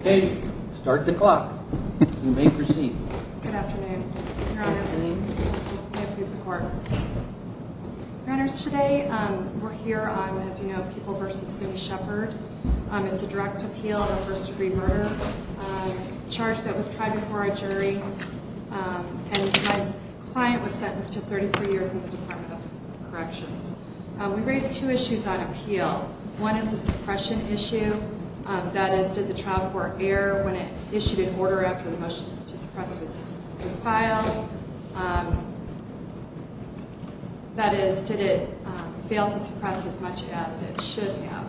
Okay, start the clock. You may proceed. Good afternoon, Your Honors. May it please the Court. Your Honors, today we're here on, as you know, People v. Cindy Shepherd. It's a direct appeal of a first-degree murder, a charge that was tried before our jury, and my client was sentenced to 33 years in the Department of Corrections. We raise two issues on appeal. One is a suppression issue, that is, did the trial court err when it issued an order after the motion to suppress was filed? That is, did it fail to suppress as much as it should have?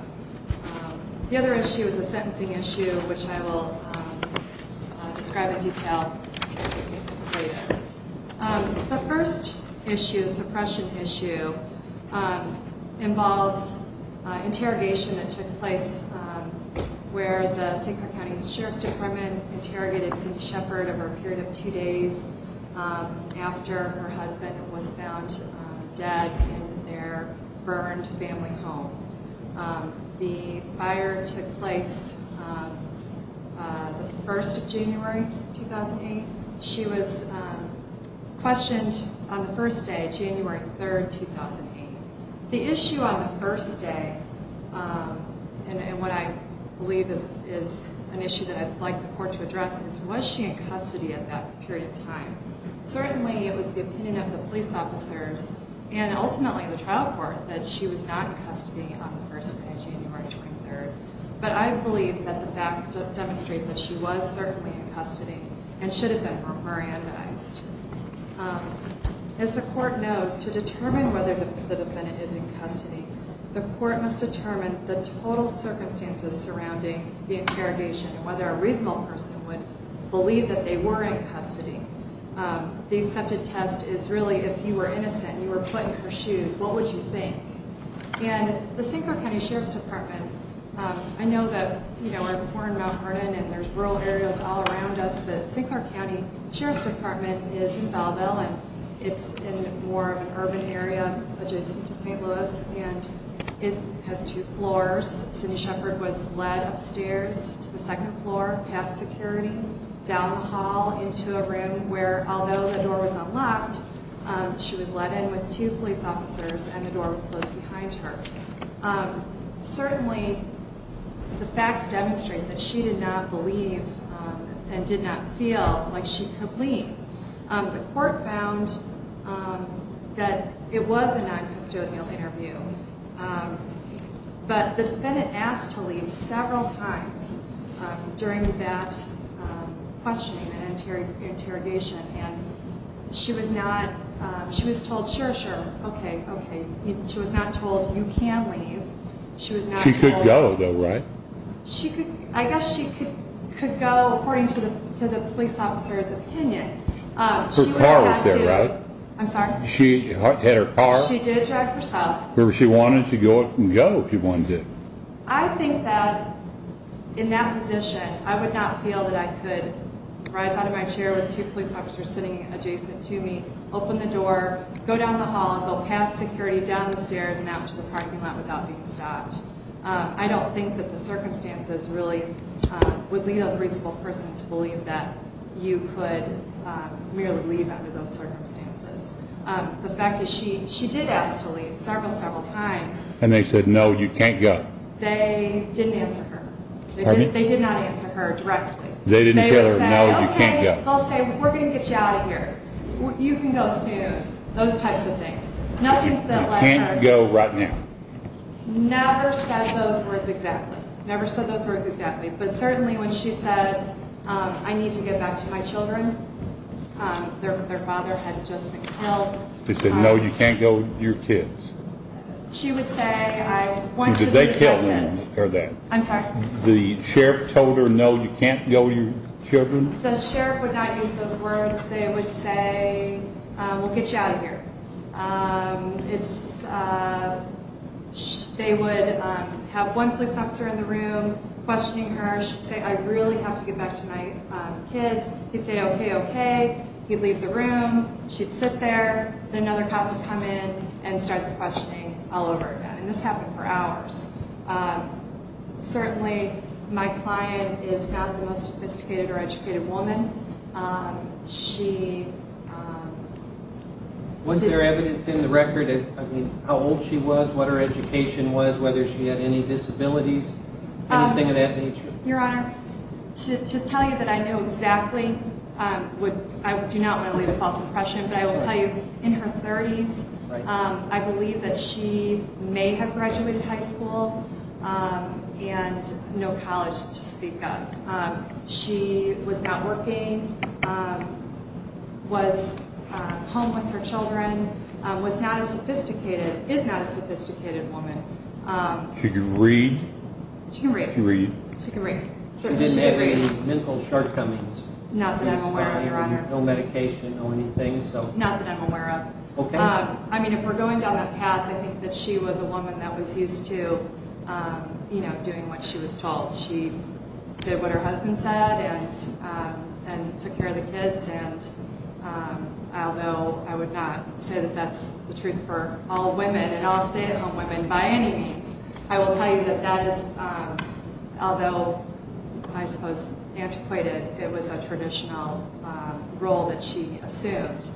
The other issue is a sentencing issue, which I will describe in detail later. The first issue, the suppression issue, involves interrogation that took place where the St. Clair County Sheriff's Department interrogated Cindy Shepherd over a period of two days after her husband was found dead in their burned family home. The fire took place on the 1st of January 2008. She was questioned on the first day, January 3rd, 2008. The issue on the first day, and what I believe is an issue that I'd like the Court to address, is was she in custody at that period of time? Certainly, it was the opinion of the police officers and ultimately the trial court that she was not in custody on the first day, January 23rd, but I believe that the facts demonstrate that she was certainly in custody and should have been remanded. As the Court knows, to determine whether the defendant is in custody, the Court must determine the total circumstances surrounding the interrogation and whether a reasonable person would believe that they were in custody. The accepted test is really if you were innocent, you were put in her shoes, what would you think? And the St. Clair County Sheriff's Department, I know that, you know, we're in Mount Vernon and there's rural areas all around us, but St. Clair County Sheriff's Department is in Belleville and it's in more of an urban area adjacent to St. Louis and it has two floors. Cindy Shepherd was led upstairs to the second floor, past security, down the hall into a room where, although the door was unlocked, she was led in with two police officers and the door was closed behind her. Certainly, the facts demonstrate that she did not believe and did not feel like she could leave. The Court found that it was a non-custodial interview, um, but the defendant asked to leave several times during that questioning and interrogation and she was not, she was told, sure, sure, okay, okay. She was not told you can't leave. She could go though, right? She could, I guess she could go according to the police officer's order. Her car was there, right? I'm sorry? She had her car? She did drive herself. Or she wanted to go and go if she wanted to. I think that in that position, I would not feel that I could rise out of my chair with two police officers sitting adjacent to me, open the door, go down the hall, go past security, down the stairs and out to the parking lot without being stopped. I don't think that the circumstances really would lead a reasonable person to believe that you could merely leave under those circumstances. The fact is, she did ask to leave several, several times. And they said, no, you can't go. They didn't answer her. Pardon me? They did not answer her directly. They didn't tell her, no, you can't go. Okay, they'll say, we're going to get you out of here. You can go soon. Those types of things. You can't go right now. Never said those words exactly. Never said those words exactly, but certainly when she said, I need to get back to my children. Their, their father had just been killed. They said, no, you can't go. Your kids. She would say, I want to. Did they kill them or that? I'm sorry. The sheriff told her, no, you can't go. Your children. The sheriff would not use those words. They would say, we'll get you out of here. It's, they would have one police officer in the room questioning her. She'd say, I really have to get back to my kids. He'd say, okay, okay. He'd leave the room. She'd sit there. Then another cop would come in and start the questioning all over again. And this happened for hours. Certainly my client is not the most sophisticated or educated woman. She, was there evidence in the record? I mean, how old she was, what her education was, whether she had any disabilities, anything of that nature, your honor to, to tell you that I know exactly, um, would, I do not want to leave a false impression, but I will tell you in her thirties, um, I believe that she may have graduated high school, um, and no college to speak of. Um, she was not working, um, was, uh, home with her Um, should you read? She can read. She can read. She didn't have any mental shortcomings. Not that I'm aware of, your honor. No medication or anything. So not that I'm aware of. Okay. Um, I mean, if we're going down that path, I think that she was a woman that was used to, um, you know, doing what she was told. She did what her husband said and, um, and took care of the kids. And, um, although I would not say that that's the truth for all women and all stay-at-home women by any means, I will tell you that that is, um, although I suppose antiquated, it was a traditional, um, role that she assumed.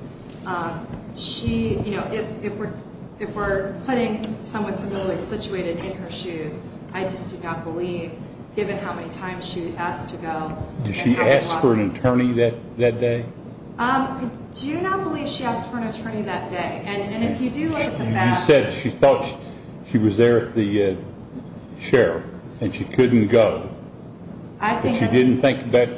Um, she, you know, if, if we're, if we're putting someone similarly situated in her shoes, I just do not believe given how many times she asked to go. Did she ask for an attorney that, that day? Um, I do not believe she asked for an attorney that day. And if you do look at the facts. You said she thought she was there at the, uh, sheriff and she couldn't go. I think she didn't think about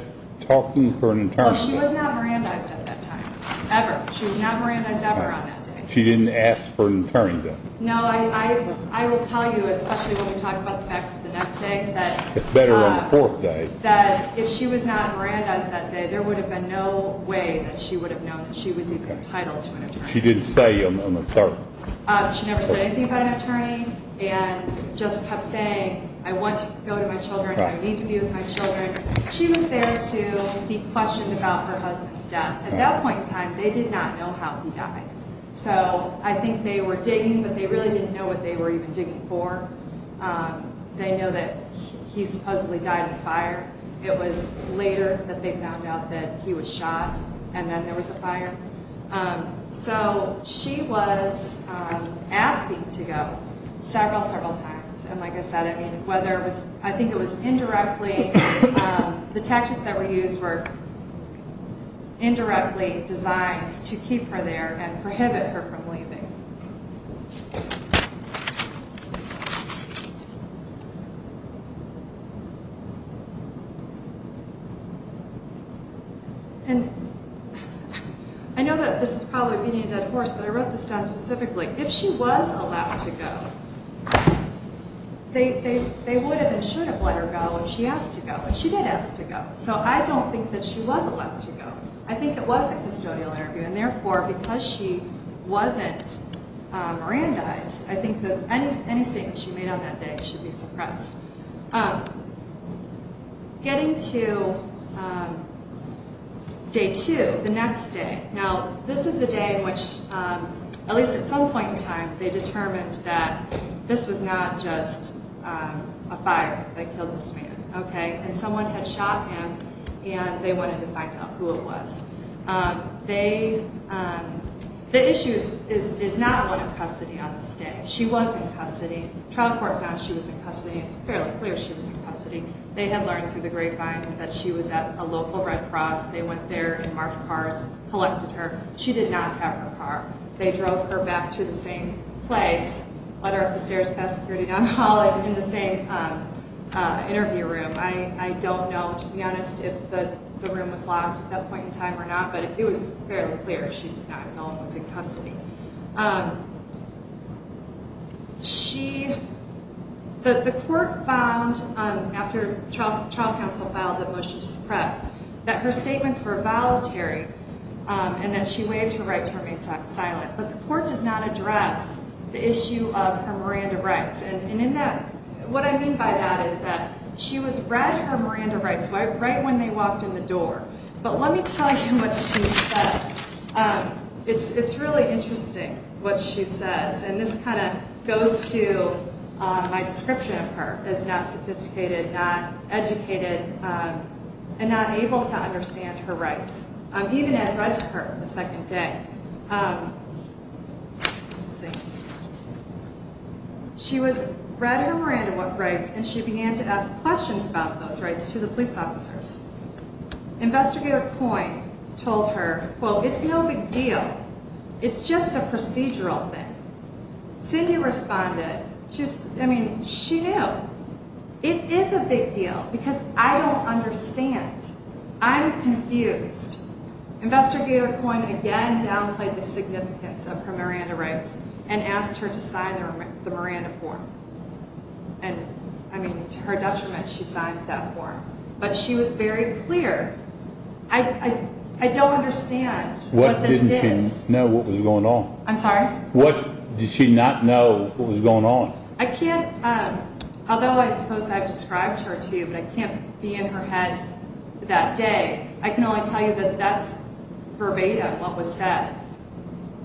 talking for an attorney. She was not Mirandized at that time, ever. She was not Mirandized ever on that day. She didn't ask for an attorney then? No, I, I, I will tell you, especially when we talk about the facts of the It's better on the fourth day. That if she was not Mirandized that day, there would have been no way that she would have known that she was even entitled to an attorney. She didn't say on the third? Uh, she never said anything about an attorney and just kept saying, I want to go to my children. I need to be with my children. She was there to be questioned about her husband's death. At that point in time, they did not know how he died. So I think they were digging, but they didn't know what they were even digging for. Um, they know that he supposedly died in a fire. It was later that they found out that he was shot and then there was a fire. Um, so she was, um, asking to go several, several times. And like I said, I mean, whether it was, I think it was indirectly, um, the taxes that were used were indirectly designed to keep her there and I know that this is probably beating a dead horse, but I wrote this down specifically. If she was allowed to go, they, they, they would have been, should have let her go if she asked to go, but she did ask to go. So I don't think that she was allowed to go. I think it was a I think that any, any statements she made on that day should be suppressed. Um, getting to, um, day two, the next day. Now this is the day in which, um, at least at some point in time, they determined that this was not just, um, a fire that killed this man. Okay. And someone had shot him and they wanted to find out who it was. Um, they, um, the issue is, is, is not one custody on this day. She was in custody. Trial court found she was in custody. It's fairly clear she was in custody. They had learned through the grapevine that she was at a local Red Cross. They went there and marked cars, collected her. She did not have her car. They drove her back to the same place, let her up the stairs, pass security down the hall and in the same, um, uh, interview room. I, I don't know, to be honest, if the room was locked at that point in time or not, but it was fairly clear. She was in custody. Um, she, the, the court found, um, after trial, trial counsel filed the motion to suppress that her statements were voluntary, um, and that she waived her rights to remain silent. But the court does not address the issue of her Miranda rights. And in that, what I mean by that is that she was read her Miranda rights right when they walked in the door. But let me tell you what she said. Um, it's, it's really interesting what she says. And this kind of goes to, um, my description of her as not sophisticated, not educated, um, and not able to understand her rights. Um, even as right to her the second day, um, let's see. She was read her Miranda rights and she began to ask questions about those rights to the police officers. Investigator Coyne told her, well, it's no big deal. It's just a procedural thing. Cindy responded, just, I mean, she knew it is a big deal because I don't understand. I'm confused. Investigator Coyne again downplayed the significance of her Miranda rights and asked her to sign the Miranda form. And I mean, it's her detriment. She signed that form, but she was very clear. I, I don't understand what didn't know what was going on. I'm sorry. What did she not know what was going on? I can't. Um, although I suppose I've described her to you, but I can't be in her head that day. I can only tell you that that's verbatim what was said.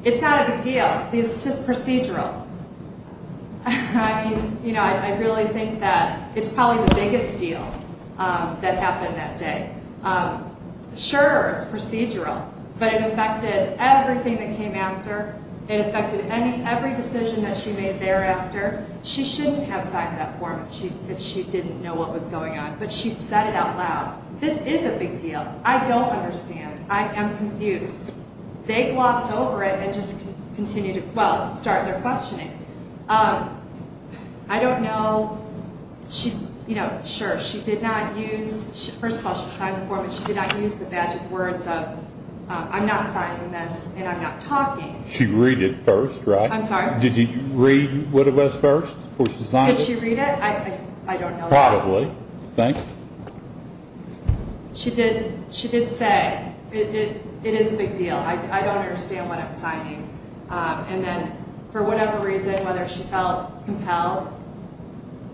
It's not a big deal. It's just procedural. I mean, you know, I, I really think that it's probably the biggest deal, um, that happened that day. Um, sure it's procedural, but it affected everything that came after. It affected any, every decision that she made thereafter. She shouldn't have signed that form if she, if she didn't know what was going on, but she said it out loud. This is a big deal. I don't understand. I am confused. They gloss over it and just continue to, well, start their questioning. Um, I don't know. She, you know, sure. She did not use, first of all, she signed the form and she did not use the magic words of, uh, I'm not signing this and I'm not talking. She read it first, right? I'm sorry. Did you read what it was first before she signed it? Did she read it? I, it is a big deal. I don't understand what I'm signing. Um, and then for whatever reason, whether she felt compelled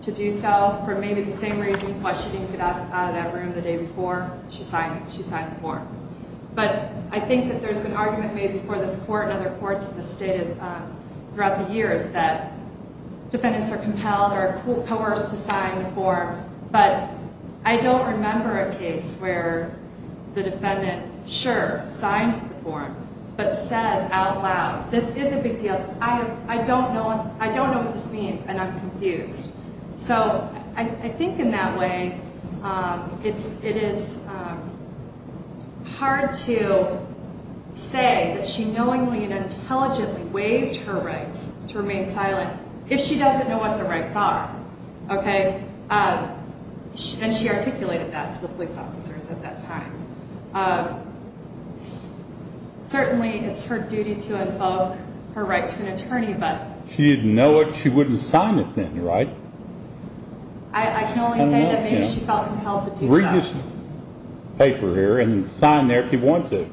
to do so for maybe the same reasons why she didn't get out of that room the day before she signed, she signed the form. But I think that there's been argument made before this court and other courts in the state is, uh, throughout the years that defendants are compelled or coerced to sign the form. But I don't remember a case where the defendant, sure, signed the form, but says out loud, this is a big deal. I don't know. I don't know what this means. And I'm confused. So I think in that way, um, it's, it is, um, hard to say that she knowingly and okay. Um, and she articulated that to the police officers at that time. Um, certainly it's her duty to invoke her right to an attorney, but she didn't know it. She wouldn't sign it then, right? I can only say that maybe she felt compelled to read this paper here and sign there if you want to.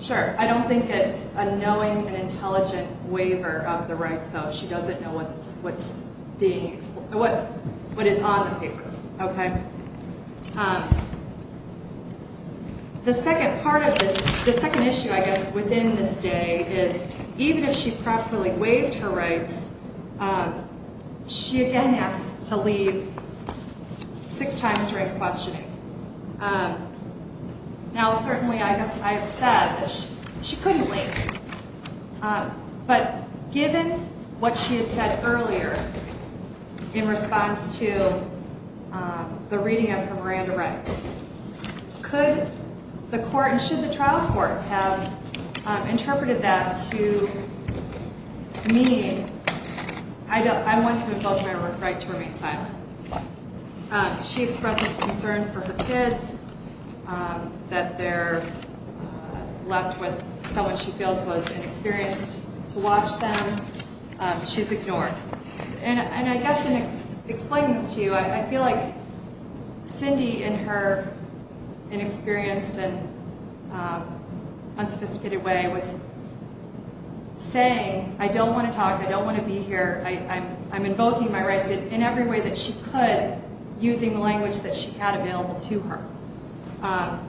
Sure. I don't think it's a knowing and intelligent waiver of the rights though. She doesn't know what's, what's being, what's, what is on the paper. Okay. Um, the second part of this, the second issue, I guess, within this day is even if she properly waived her rights, um, she again has to leave six times during questioning. Um, now certainly I guess I have said that she couldn't wait. Um, but given what she had said earlier in response to, um, the reading of her Miranda rights, could the court and should the me, I don't, I want to invoke my right to remain silent. Um, she expresses concern for her kids, um, that they're, uh, left with someone she feels was inexperienced to watch them. Um, she's ignored. And I guess in explaining this to you, I feel like Cindy and her inexperienced and, um, unsophisticated way was saying, I don't want to talk. I don't want to be here. I, I'm, I'm invoking my rights in every way that she could using the language that she had available to her. Um,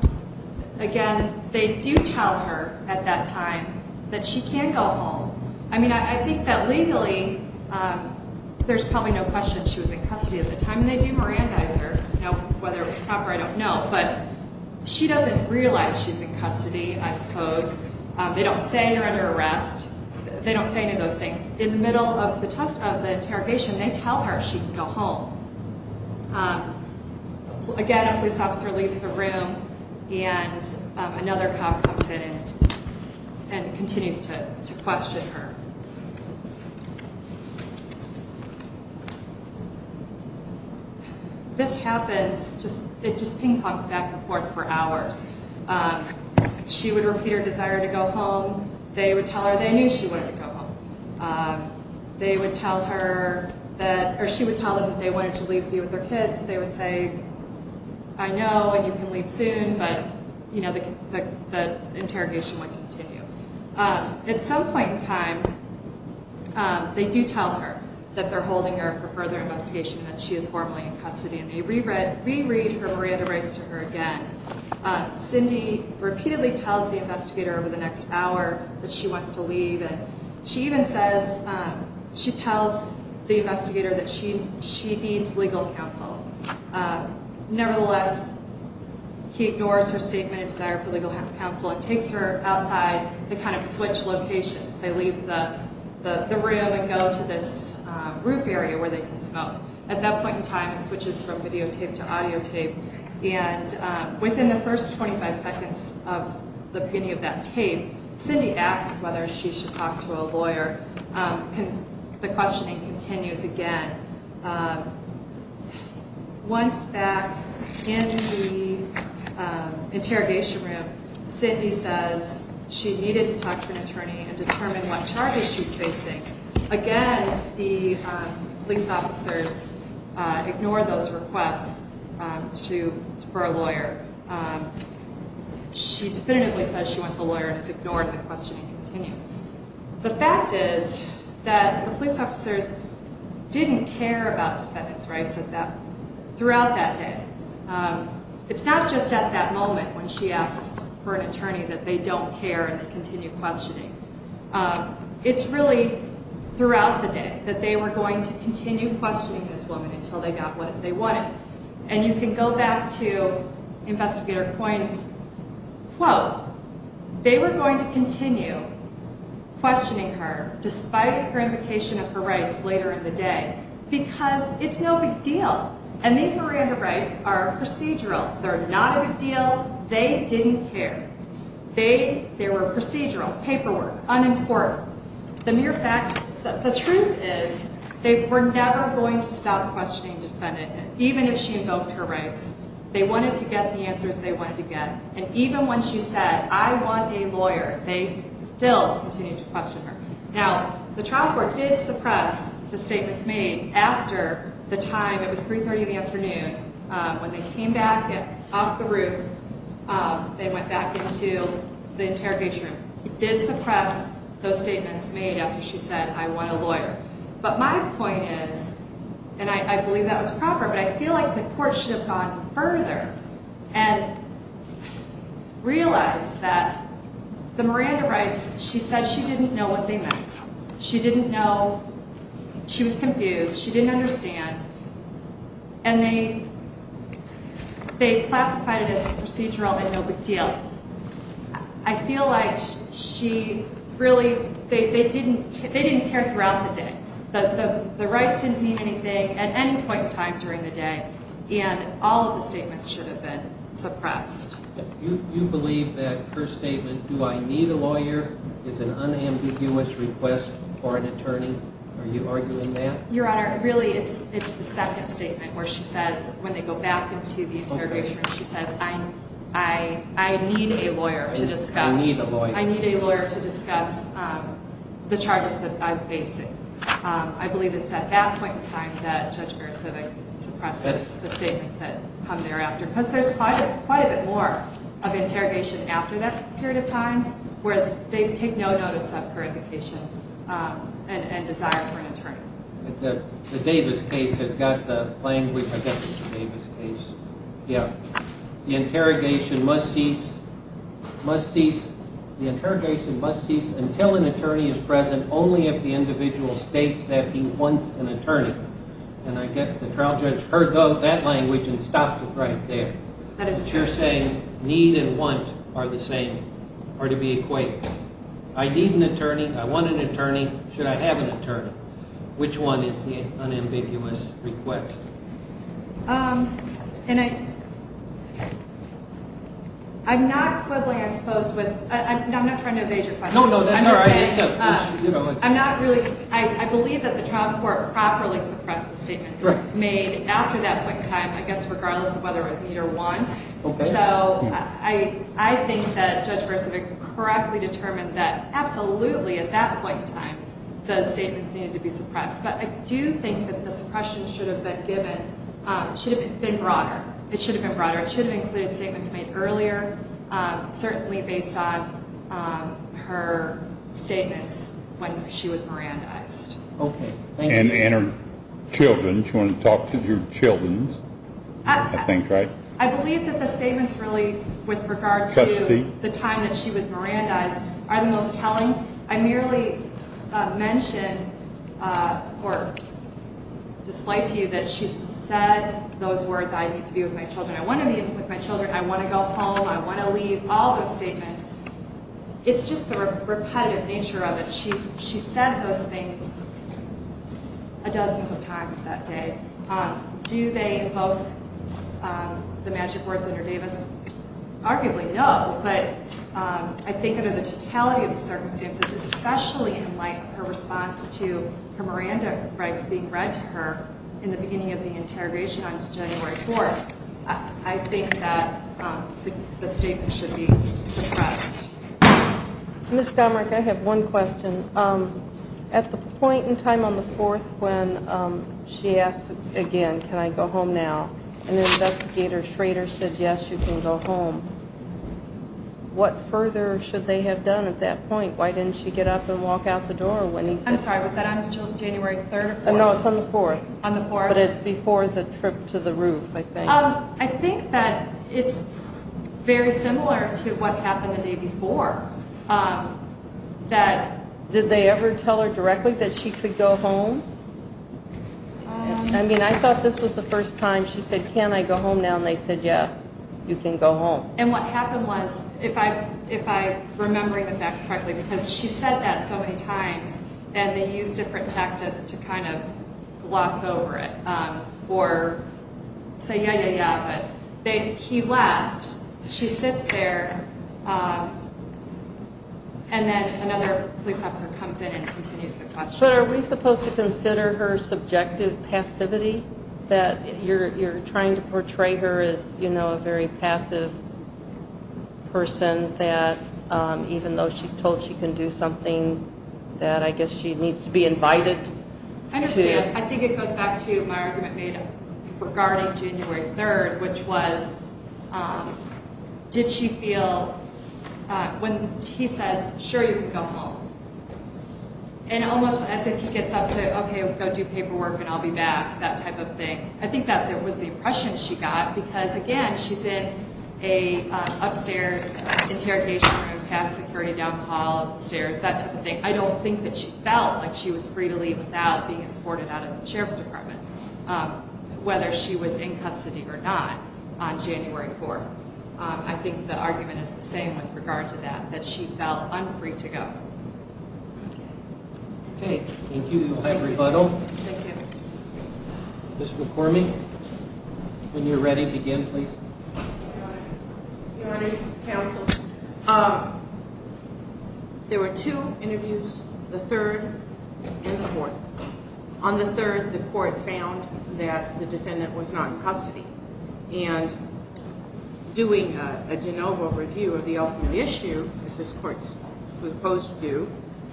again, they do tell her at that time that she can't go home. I mean, I think that legally, um, there's probably no question she was in custody at the time and they do Mirandize her, you know, whether it was proper, I don't know, but she doesn't realize she's in custody. I suppose. Um, they don't say you're under arrest. They don't say any of those things in the middle of the test of the interrogation. They tell her she can go home. Um, again, a police officer leaves the room and, um, another cop comes in and continues to question her. Okay. This happens just, it just ping pongs back and forth for hours. Um, she would repeat her desire to go home. They would tell her they knew she wanted to go home. Um, they would tell her that, or she would tell them that they wanted to leave, be with their kids. They would say, I know, and you can leave soon, but you know, the, the, the interrogation would continue. Um, at some point in time, um, they do tell her that they're holding her for further investigation and that she is formally in custody and they reread, reread her Miranda rights to her again. Uh, Cindy repeatedly tells the investigator over the next hour that she wants to leave. And she even says, um, she tells the investigator that she, she needs legal counsel. Um, nevertheless, he ignores her statement of desire for legal counsel and takes her outside the kind of switch locations. They leave the, the, the room and go to this, uh, roof area where they can smoke. At that point in time, it switches from videotape to audio tape. And, um, within the first 25 seconds of the beginning of that tape, Cindy asks whether she should talk to a lawyer. Um, the questioning continues again. Um, once back in the, um, interrogation room, Cindy says she needed to talk to an attorney and determine what charges she's facing. Again, the, um, police officers, uh, ignore those requests, um, to for a lawyer. Um, she definitively says she wants a lawyer and it's ignored. And the questioning continues. The fact is that the police officers didn't care about defendants' rights at that, throughout that day. Um, it's not just at that moment when she asks for an attorney that they don't care and continue questioning. Um, it's really throughout the day that they were going to continue questioning this woman until they got what they wanted. And you can go back to questioning her despite her invocation of her rights later in the day, because it's no big deal. And these Miranda rights are procedural. They're not a big deal. They didn't care. They, they were procedural paperwork, unimportant. The mere fact that the truth is they were never going to stop questioning defendant. And even if she invoked her rights, they wanted to get the answers they wanted to get. And even when she said, I want a lawyer, they still continue to question her. Now the trial court did suppress the statements made after the time it was three 30 in the afternoon. Um, when they came back and off the roof, um, they went back into the interrogation room. It did suppress those statements made after she said, I want a lawyer. But my point is, and I believe that was proper, but I feel like the court should have gone further and realize that the Miranda rights, she said she didn't know what they meant. She didn't know she was confused. She didn't understand. And they, they classified it as procedural and no big deal. I feel like she really, they, they didn't, they didn't care throughout the day, but the rights didn't mean anything at any point in time and all of the statements should have been suppressed. You believe that her statement, do I need a lawyer is an unambiguous request for an attorney. Are you arguing that your honor? Really? It's, it's the second statement where she says, when they go back into the interrogation, she says, I, I, I need a lawyer to discuss. I need a lawyer to discuss the charges that I'm facing. Um, I believe it's at that point in time that judge bear civic suppresses the statements that come thereafter because there's quite a, quite a bit more of interrogation after that period of time where they take no notice of her indication, um, and, and desire for an attorney. The Davis case has got the plane. We forget the Davis case. Yeah. The interrogation must cease, must cease. The interrogation must cease until an attorney is present. Only if the individual states that he wants an attorney and I get the trial judge heard that language and stopped it right there. You're saying need and want are the same or to be equated. I need an attorney. I want an attorney. Should I have an attorney? Which one is the unambiguous request? Um, and I, I'm not quibbling, I suppose with, I'm not trying to evade your question. I'm not really, I believe that the trial court properly suppressed the statements made after that point in time, I guess, regardless of whether it was need or want. So I, I think that judge versus a correctly determined that absolutely at that point in time, the statements needed to be suppressed, but I do think that the suppression should have been given, um, should have been broader. It should have been broader. It should have included statements made earlier. Um, certainly based on, um, her statements when she was Miranda iced. Okay. And, and her children, she wanted to talk to your children's things, right? I believe that the statements really, with regard to the time that she was Miranda eyes are the most telling. I merely mentioned, uh, or display to you that she said those words, I need to be with my children. I want to be with my children. I want to go home. I want to leave all those statements. It's just the repetitive nature of it. She, she said those things a dozens of times that day. Um, do they invoke, um, the magic words under Davis? Arguably no, but, um, I think under the totality of the circumstances, especially in light of her response to her Miranda rights being read to her in the beginning of the interrogation on January 4th, I think that, um, the statement should be suppressed. Ms. Comerick, I have one question. Um, at the point in time on the fourth, when, um, she asked again, can I go home now? And the investigator Schrader said, yes, you can go home. Um, what further should they have done at that point? Why didn't she get up and walk out the door when he, I'm sorry, was that on January 3rd? No, it's on the 4th on the 4th, but it's before the trip to the roof. I think, um, I think that it's very similar to what happened the day before, um, that did they ever tell her directly that she could go home? I mean, I thought this was the first time she said, can I go home now? And they said, yes, you can go home. And what happened was if I, if I remembering the facts correctly, because she said that so many times and they use different tactics to kind of gloss over it, um, or say, yeah, yeah, yeah. But they, he left, she sits there, um, and then another police officer comes in and continues the question. But are we supposed to consider her subjective passivity that you're, you're trying to portray her as, you know, a very passive person that, um, even though she's told she can do something that I guess she needs to be invited? I understand. I think it goes back to my argument made regarding January 3rd, which was, um, did she feel, uh, when he says, sure, you can go home and almost as if he gets up to, okay, go do paperwork and I'll be back. That type of thing. I think that there was the oppression she got because again, she's in a, uh, upstairs interrogation room, past security down the hall, the stairs, that type of thing. I don't think that she felt like she was free to leave without being escorted out of the Sheriff's department, um, whether she was in custody or not on January 4th. Um, I think the argument is the same with regard to that, that she felt unfree to go. Okay. Thank you. We'll have a brief rebuttal. Thank you. Mr. McCormick, when you're ready, begin, please. Your Honor's counsel, um, there were two interviews, the third and the fourth. On the third, the court found that the defendant was not in custody and doing a de novo review of the ultimate issue, as this court's proposed to do,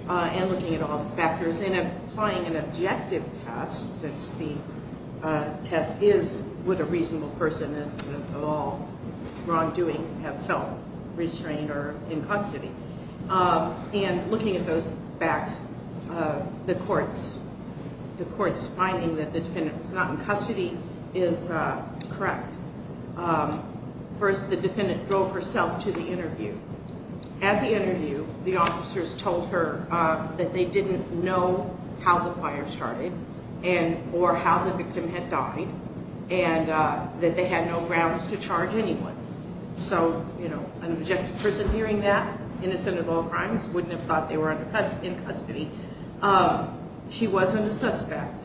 uh, and looking at all the factors and applying an objective test, since the, uh, test is with a reasonable person and all wrongdoing have felt restrained or in custody. Um, and looking at those facts, uh, the courts, the courts finding that the defendant was not in custody is, uh, correct. Um, first, the defendant drove herself to the interview. At the interview, the officers told her, uh, that they didn't know how the fire started and, or how the victim had died and, uh, that they had no grounds to charge anyone. So, you know, an objective person hearing that, innocent of all crimes, wouldn't have thought they were in custody. Um, she wasn't a suspect,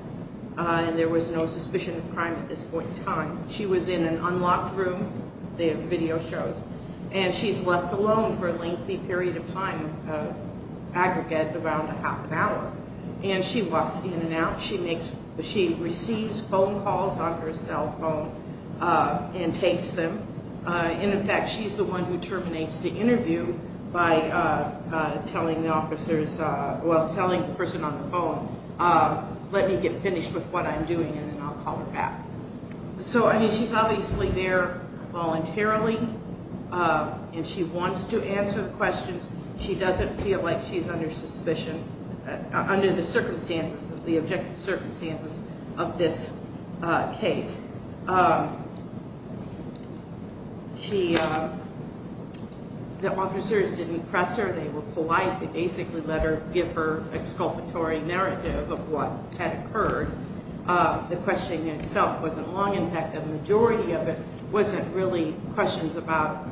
uh, and there was no suspicion of crime at this point in time. She was in an unlocked room, they have video shows, and she's left alone for a lengthy period of time, uh, aggregate around a half an hour. And she walks in and out. She makes, she receives phone calls on her cell phone, uh, and takes them. Uh, and in fact, she's the one who terminates the telling the person on the phone, uh, let me get finished with what I'm doing and then I'll call her back. So, I mean, she's obviously there voluntarily, uh, and she wants to answer the questions. She doesn't feel like she's under suspicion, uh, under the circumstances, the objective circumstances of this, uh, case. Um, she, um, the officers didn't press her. They were exculpatory narrative of what had occurred. Uh, the questioning itself wasn't long. In fact, the majority of it wasn't really questions about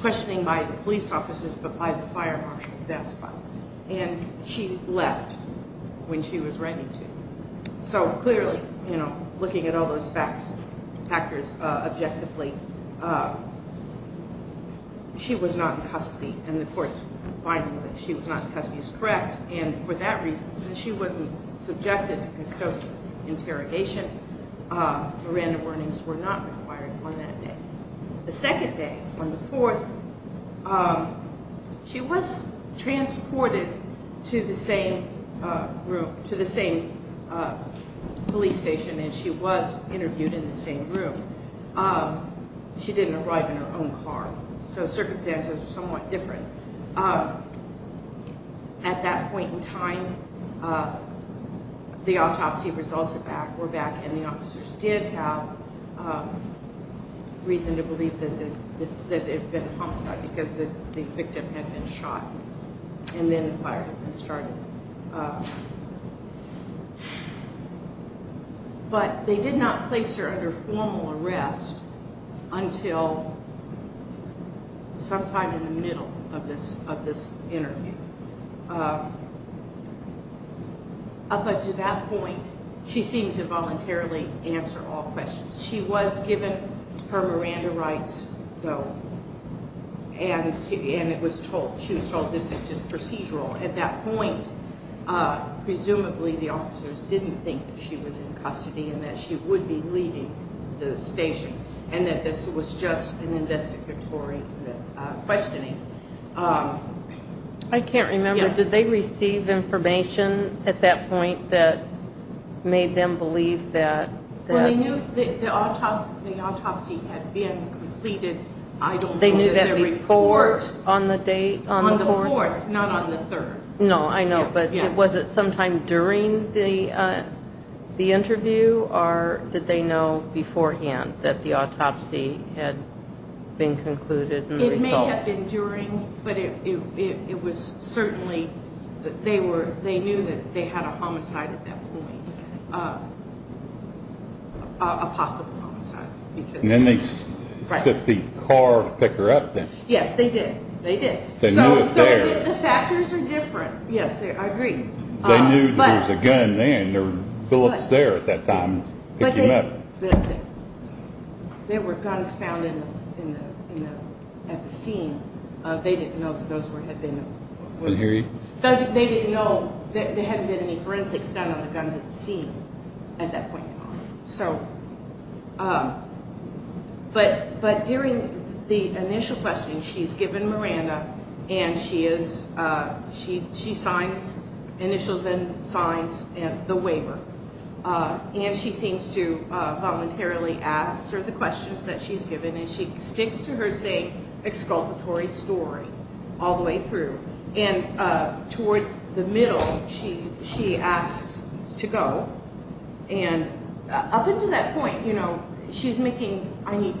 questioning by the police officers, but by the fire marshal despot. And she left when she was ready to. So clearly, you know, looking at all those facts, factors, uh, objectively, uh, she was not in custody. And the court's finding that she was not in custody is correct. And for that reason, since she wasn't subjected to constructive interrogation, uh, Miranda warnings were not required on that day. The second day on the fourth, um, she was transported to the same, uh, room, to the same, uh, police station. And she was interviewed in the same room. Um, she didn't arrive in her own car. So circumstances are somewhat different. Uh, at that point in time, uh, the autopsy results were back, were back and the officers did have, um, reason to believe that it had been a homicide because the victim had been shot and then the fire had been started. Um, but they did not place her under formal arrest until sometime in the middle of this, of this interview. Uh, but to that point, she seemed to voluntarily answer all questions. She was given her Miranda rights though. And, and it was told, she was told this is just procedural at that point. Uh, the officers didn't think that she was in custody and that she would be leaving the station and that this was just an investigatory questioning. Um, I can't remember. Did they receive information at that point that made them believe that the autopsy, the autopsy had been completed? I don't know. They knew that report on the date not on the third. No, I know. But was it sometime during the, uh, the interview or did they know beforehand that the autopsy had been concluded? It may have been during, but it, it, it, it was certainly that they were, they knew that they had a homicide at that point, uh, uh, a possible homicide. And then they set the car to pick her up then? Yes, they did. They did. So the factors are different. Yes, I agree. They knew there was a gun then, there were bullets there at that time. But there were guns found in the, in the, in the, at the scene. Uh, they didn't know that those were, had been, they didn't know that there hadn't been any forensics done on the guns at the scene at that point. So, um, but, but during the initial questioning, she's given Miranda and she is, uh, she, she signs initials and signs and the waiver. Uh, and she seems to, uh, voluntarily answer the questions that she's given and she sticks to her, exculpatory story all the way through. And, uh, toward the middle, she, she asks to go. And up until that point, you know, she's making, I need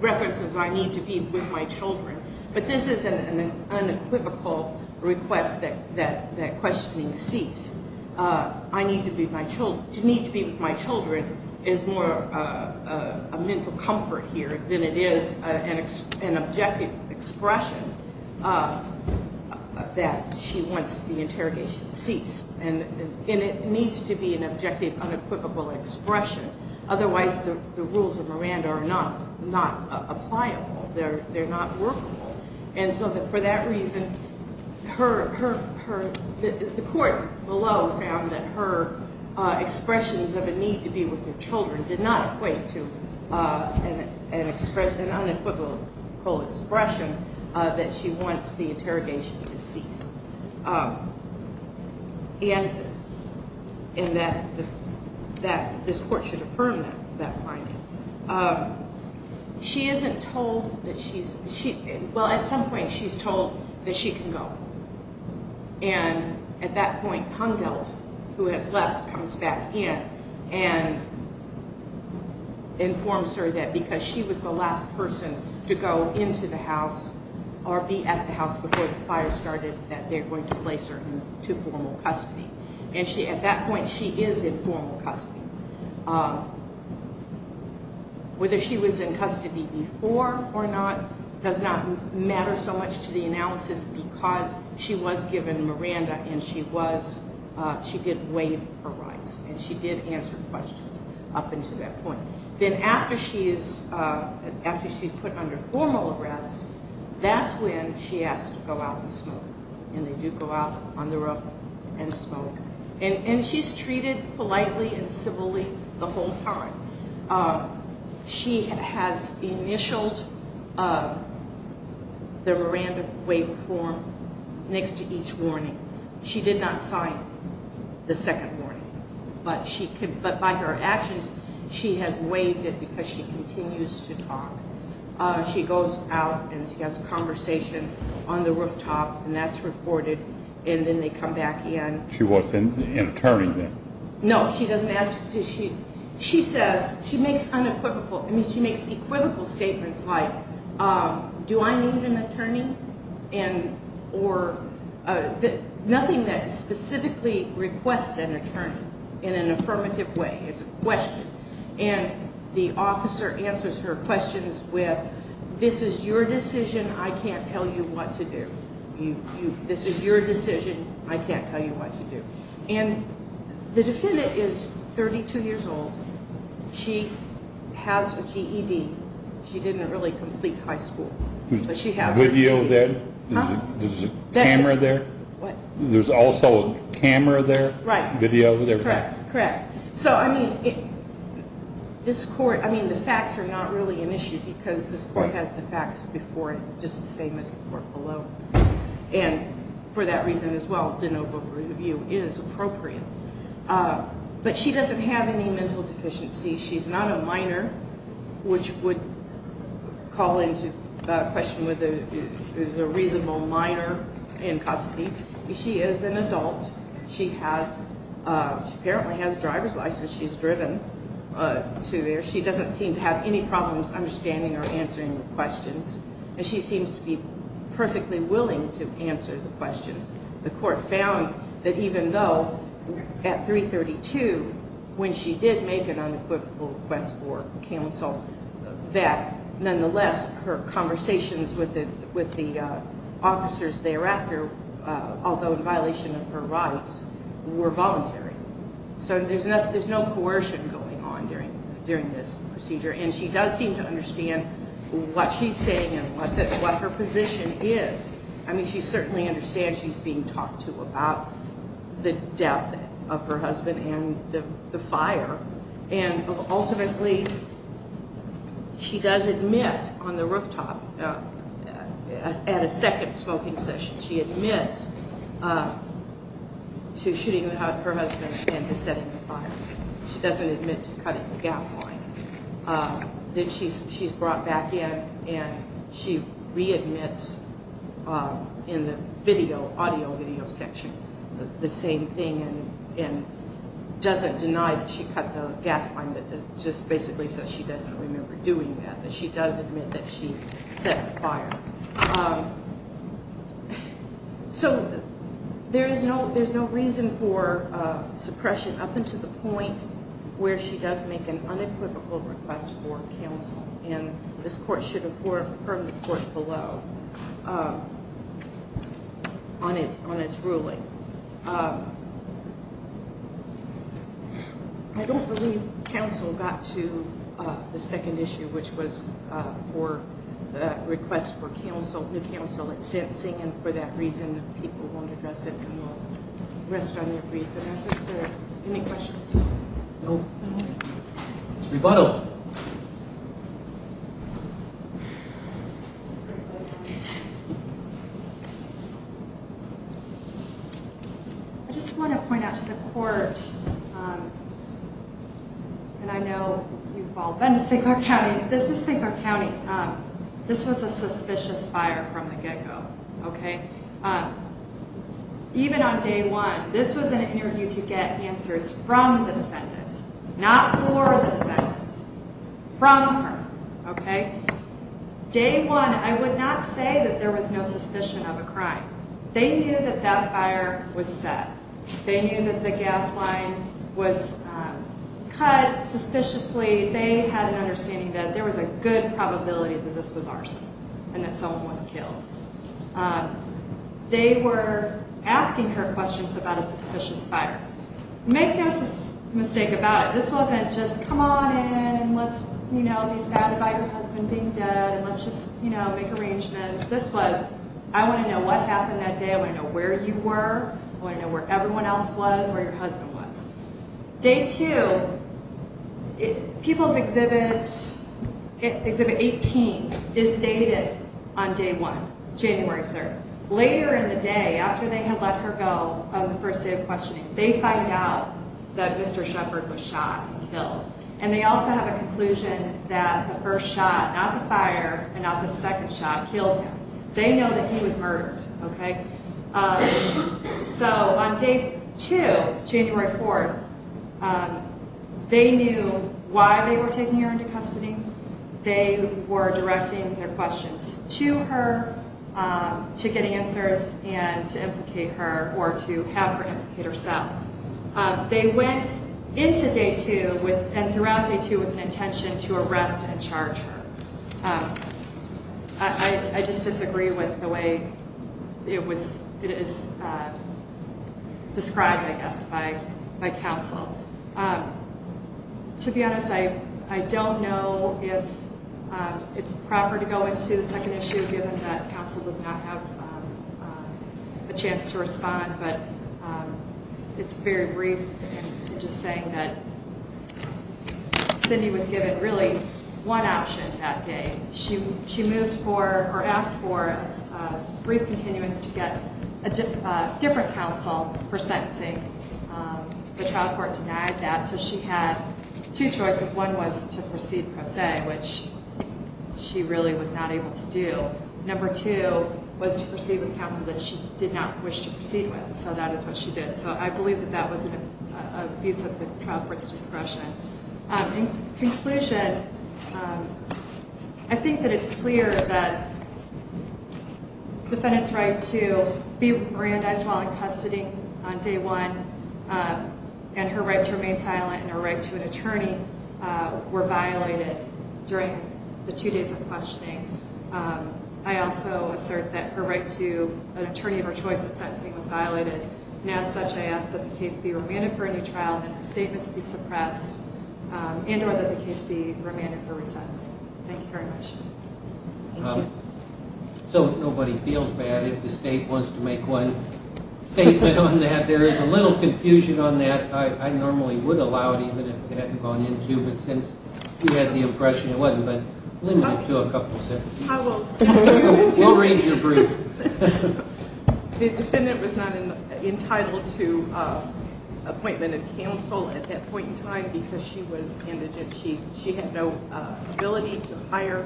references, I need to be with my children, but this is an unequivocal request that, that, that questioning ceased. Uh, I need to be my children, to need to be with my children is more, uh, uh, a mental comfort here than it is an objective expression, uh, that she wants the interrogation to cease. And, and it needs to be an objective, unequivocal expression. Otherwise the, the rules of Miranda are not, not applicable. They're, they're not workable. And so for that reason, her, her, her, the court below found that her, uh, expressions of a need to be with her children did not equate to, uh, an, an expression, an unequivocal expression, uh, that she wants the interrogation to cease. Um, and, and that, that this court should affirm that, that finding. Um, she isn't told that she's, she, well, at some point she's told that she can go. And at that point, Poundel, who has left, comes back in and informs her that because she was the last person to go into the house or be at the house before the fire started, that they're going to place her to formal custody. And she, at that point, she is in formal custody. Um, whether she was in custody before or not does not matter so much to the analysis because she was given Miranda and she was, uh, she did waive her rights and she did answer questions up until that point. Then after she is, uh, after she's put under formal arrest, that's when she asked to go out and smoke. And they do go out on the roof and smoke. And she's treated politely and civilly the whole time. Um, she has initialed, uh, the Miranda waiver form next to each warning. She did not sign the second warning, but she could, but by her actions, she has waived it because she continues to talk. Uh, she goes out and she has a conversation on the rooftop and that's reported. And then they come back in. She wasn't an attorney then. No, she doesn't ask. She says she makes unequivocal. I mean, she makes equivocal statements like, um, do I need an attorney and or, uh, nothing that specifically requests an attorney in an affirmative way. It's a question. And the officer answers her questions with this is your decision. I can't tell you what to do. This is your decision. I can't tell you what to do. And the defendant is 32 years old. She has a GED. She didn't really complete high school, but she has video there. There's a camera there. There's also a camera there. Right. Video there. Correct. Correct. So, I mean, this court, I mean, the facts are not really an issue because this court has the facts before it just the same as the court below. And for that reason as well, de novo review is appropriate. Uh, but she doesn't have any mental deficiency. She's not a minor, which would call into question whether it was a reasonable minor in custody. She is an adult. She has, uh, she apparently has driver's license. She's driven to there. She doesn't seem to have any problems understanding or answering questions. And she seems to be perfectly willing to answer the questions. The court found that even though at 332, when she did make an unequivocal request for counsel, that nonetheless her conversations with the, with the, uh, officers thereafter, uh, although in violation of her rights were voluntary. So there's no, there's no coercion going on during, during this procedure. And she does seem to understand what she's saying and what her position is. I mean, she certainly understands she's being talked to about the death of her husband and the fire. And ultimately she does admit on the rooftop at a second smoking session, she admits, uh, to shooting her husband and to she's brought back in and she readmits, um, in the video audio video section, the same thing. And, and doesn't deny that she cut the gas line that just basically says she doesn't remember doing that, but she does admit that she set the fire. Um, so there is no, there's no reason for, uh, where she does make an unequivocal request for counsel. And this court should affirm the court below, uh, on its, on its ruling. Uh, I don't believe counsel got to, uh, the second issue, which was, uh, for the request for counsel, the counsel at sentencing. And for that reason, people won't address it and we'll rest on your brief. Any questions? No. I just want to point out to the court. Um, and I know you've all been to St. Clair County. This was a suspicious fire from the get go. Okay. Um, even on day one, this was an interview to get answers from the defendants, not for the defendants, from her. Okay. Day one, I would not say that there was no suspicion of a crime. They knew that that fire was set. They knew that the gas line was cut suspiciously. They had an understanding that there was a good probability that this was and that someone was killed. Um, they were asking her questions about a suspicious fire. Make no mistake about it. This wasn't just come on in and let's, you know, be saddened by her husband being dead and let's just, you know, make arrangements. This was, I want to know what happened that day. I want to know where you were. I want to know where everyone else was, where your exhibit 18 is dated on day one, January 3rd. Later in the day, after they had let her go on the first day of questioning, they find out that Mr Shepherd was shot and killed. And they also have a conclusion that the first shot, not the fire and not the second shot killed him. They know that he was murdered. Okay. Um, so on day two, January 4th, um, they knew why they were taking her into custody. They were directing their questions to her, um, to get answers and to implicate her or to have her implicate herself. Um, they went into day two with and throughout day two with an intention to arrest and charge her. Um, I, I just disagree with the way it was, it is, uh, described, I guess, by, by counsel. Um, to be honest, I, I don't know if, um, it's proper to go into the second issue given that counsel does not have, um, a chance to respond, but, um, it's very brief and just saying that Cindy was given really one option that day. She, she moved for or asked for a brief continuance to get a different counsel for sentencing. Um, the trial court denied that. So she had two choices. One was to proceed per se, which she really was not able to do. Number two was to proceed with counsel that she did not wish to proceed with. So that is what she did. So I believe that that was an abuse of the trial court's discretion. Um, in conclusion, um, I think that it's clear that defendant's right to be remandized while in custody on day one, um, and her right to remain silent and her right to an attorney, uh, were violated during the two days of questioning. Um, I also assert that her right to an attorney of her choice at sentencing was violated. And as such, I ask that the case be suppressed, um, and or that the case be remanded for resensing. Thank you very much. So nobody feels bad if the state wants to make one statement on that. There is a little confusion on that. I normally would allow it even if it hadn't gone into, but since you had the impression it wasn't, but limited to a couple of sentences. I will read your brief. The defendant was not entitled to, uh, appointment of counsel at that point in time because she was indigent. She, she had no ability to hire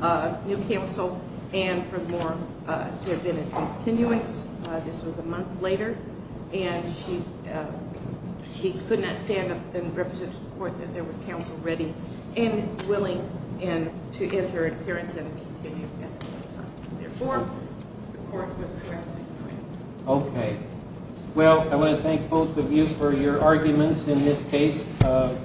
a new counsel and for more, uh, to have been a continuance. Uh, this was a month later and she, uh, she could not stand up and represent to the court that there was counsel ready and willing and to enter appearance and continue. Therefore, the court was correct. Okay. Well, I want to thank both of you for your arguments in this case, uh,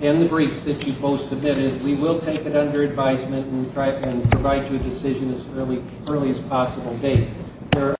and the briefs that you both submitted. We will take it under advisement and try and provide you a decision as early, early as possible date.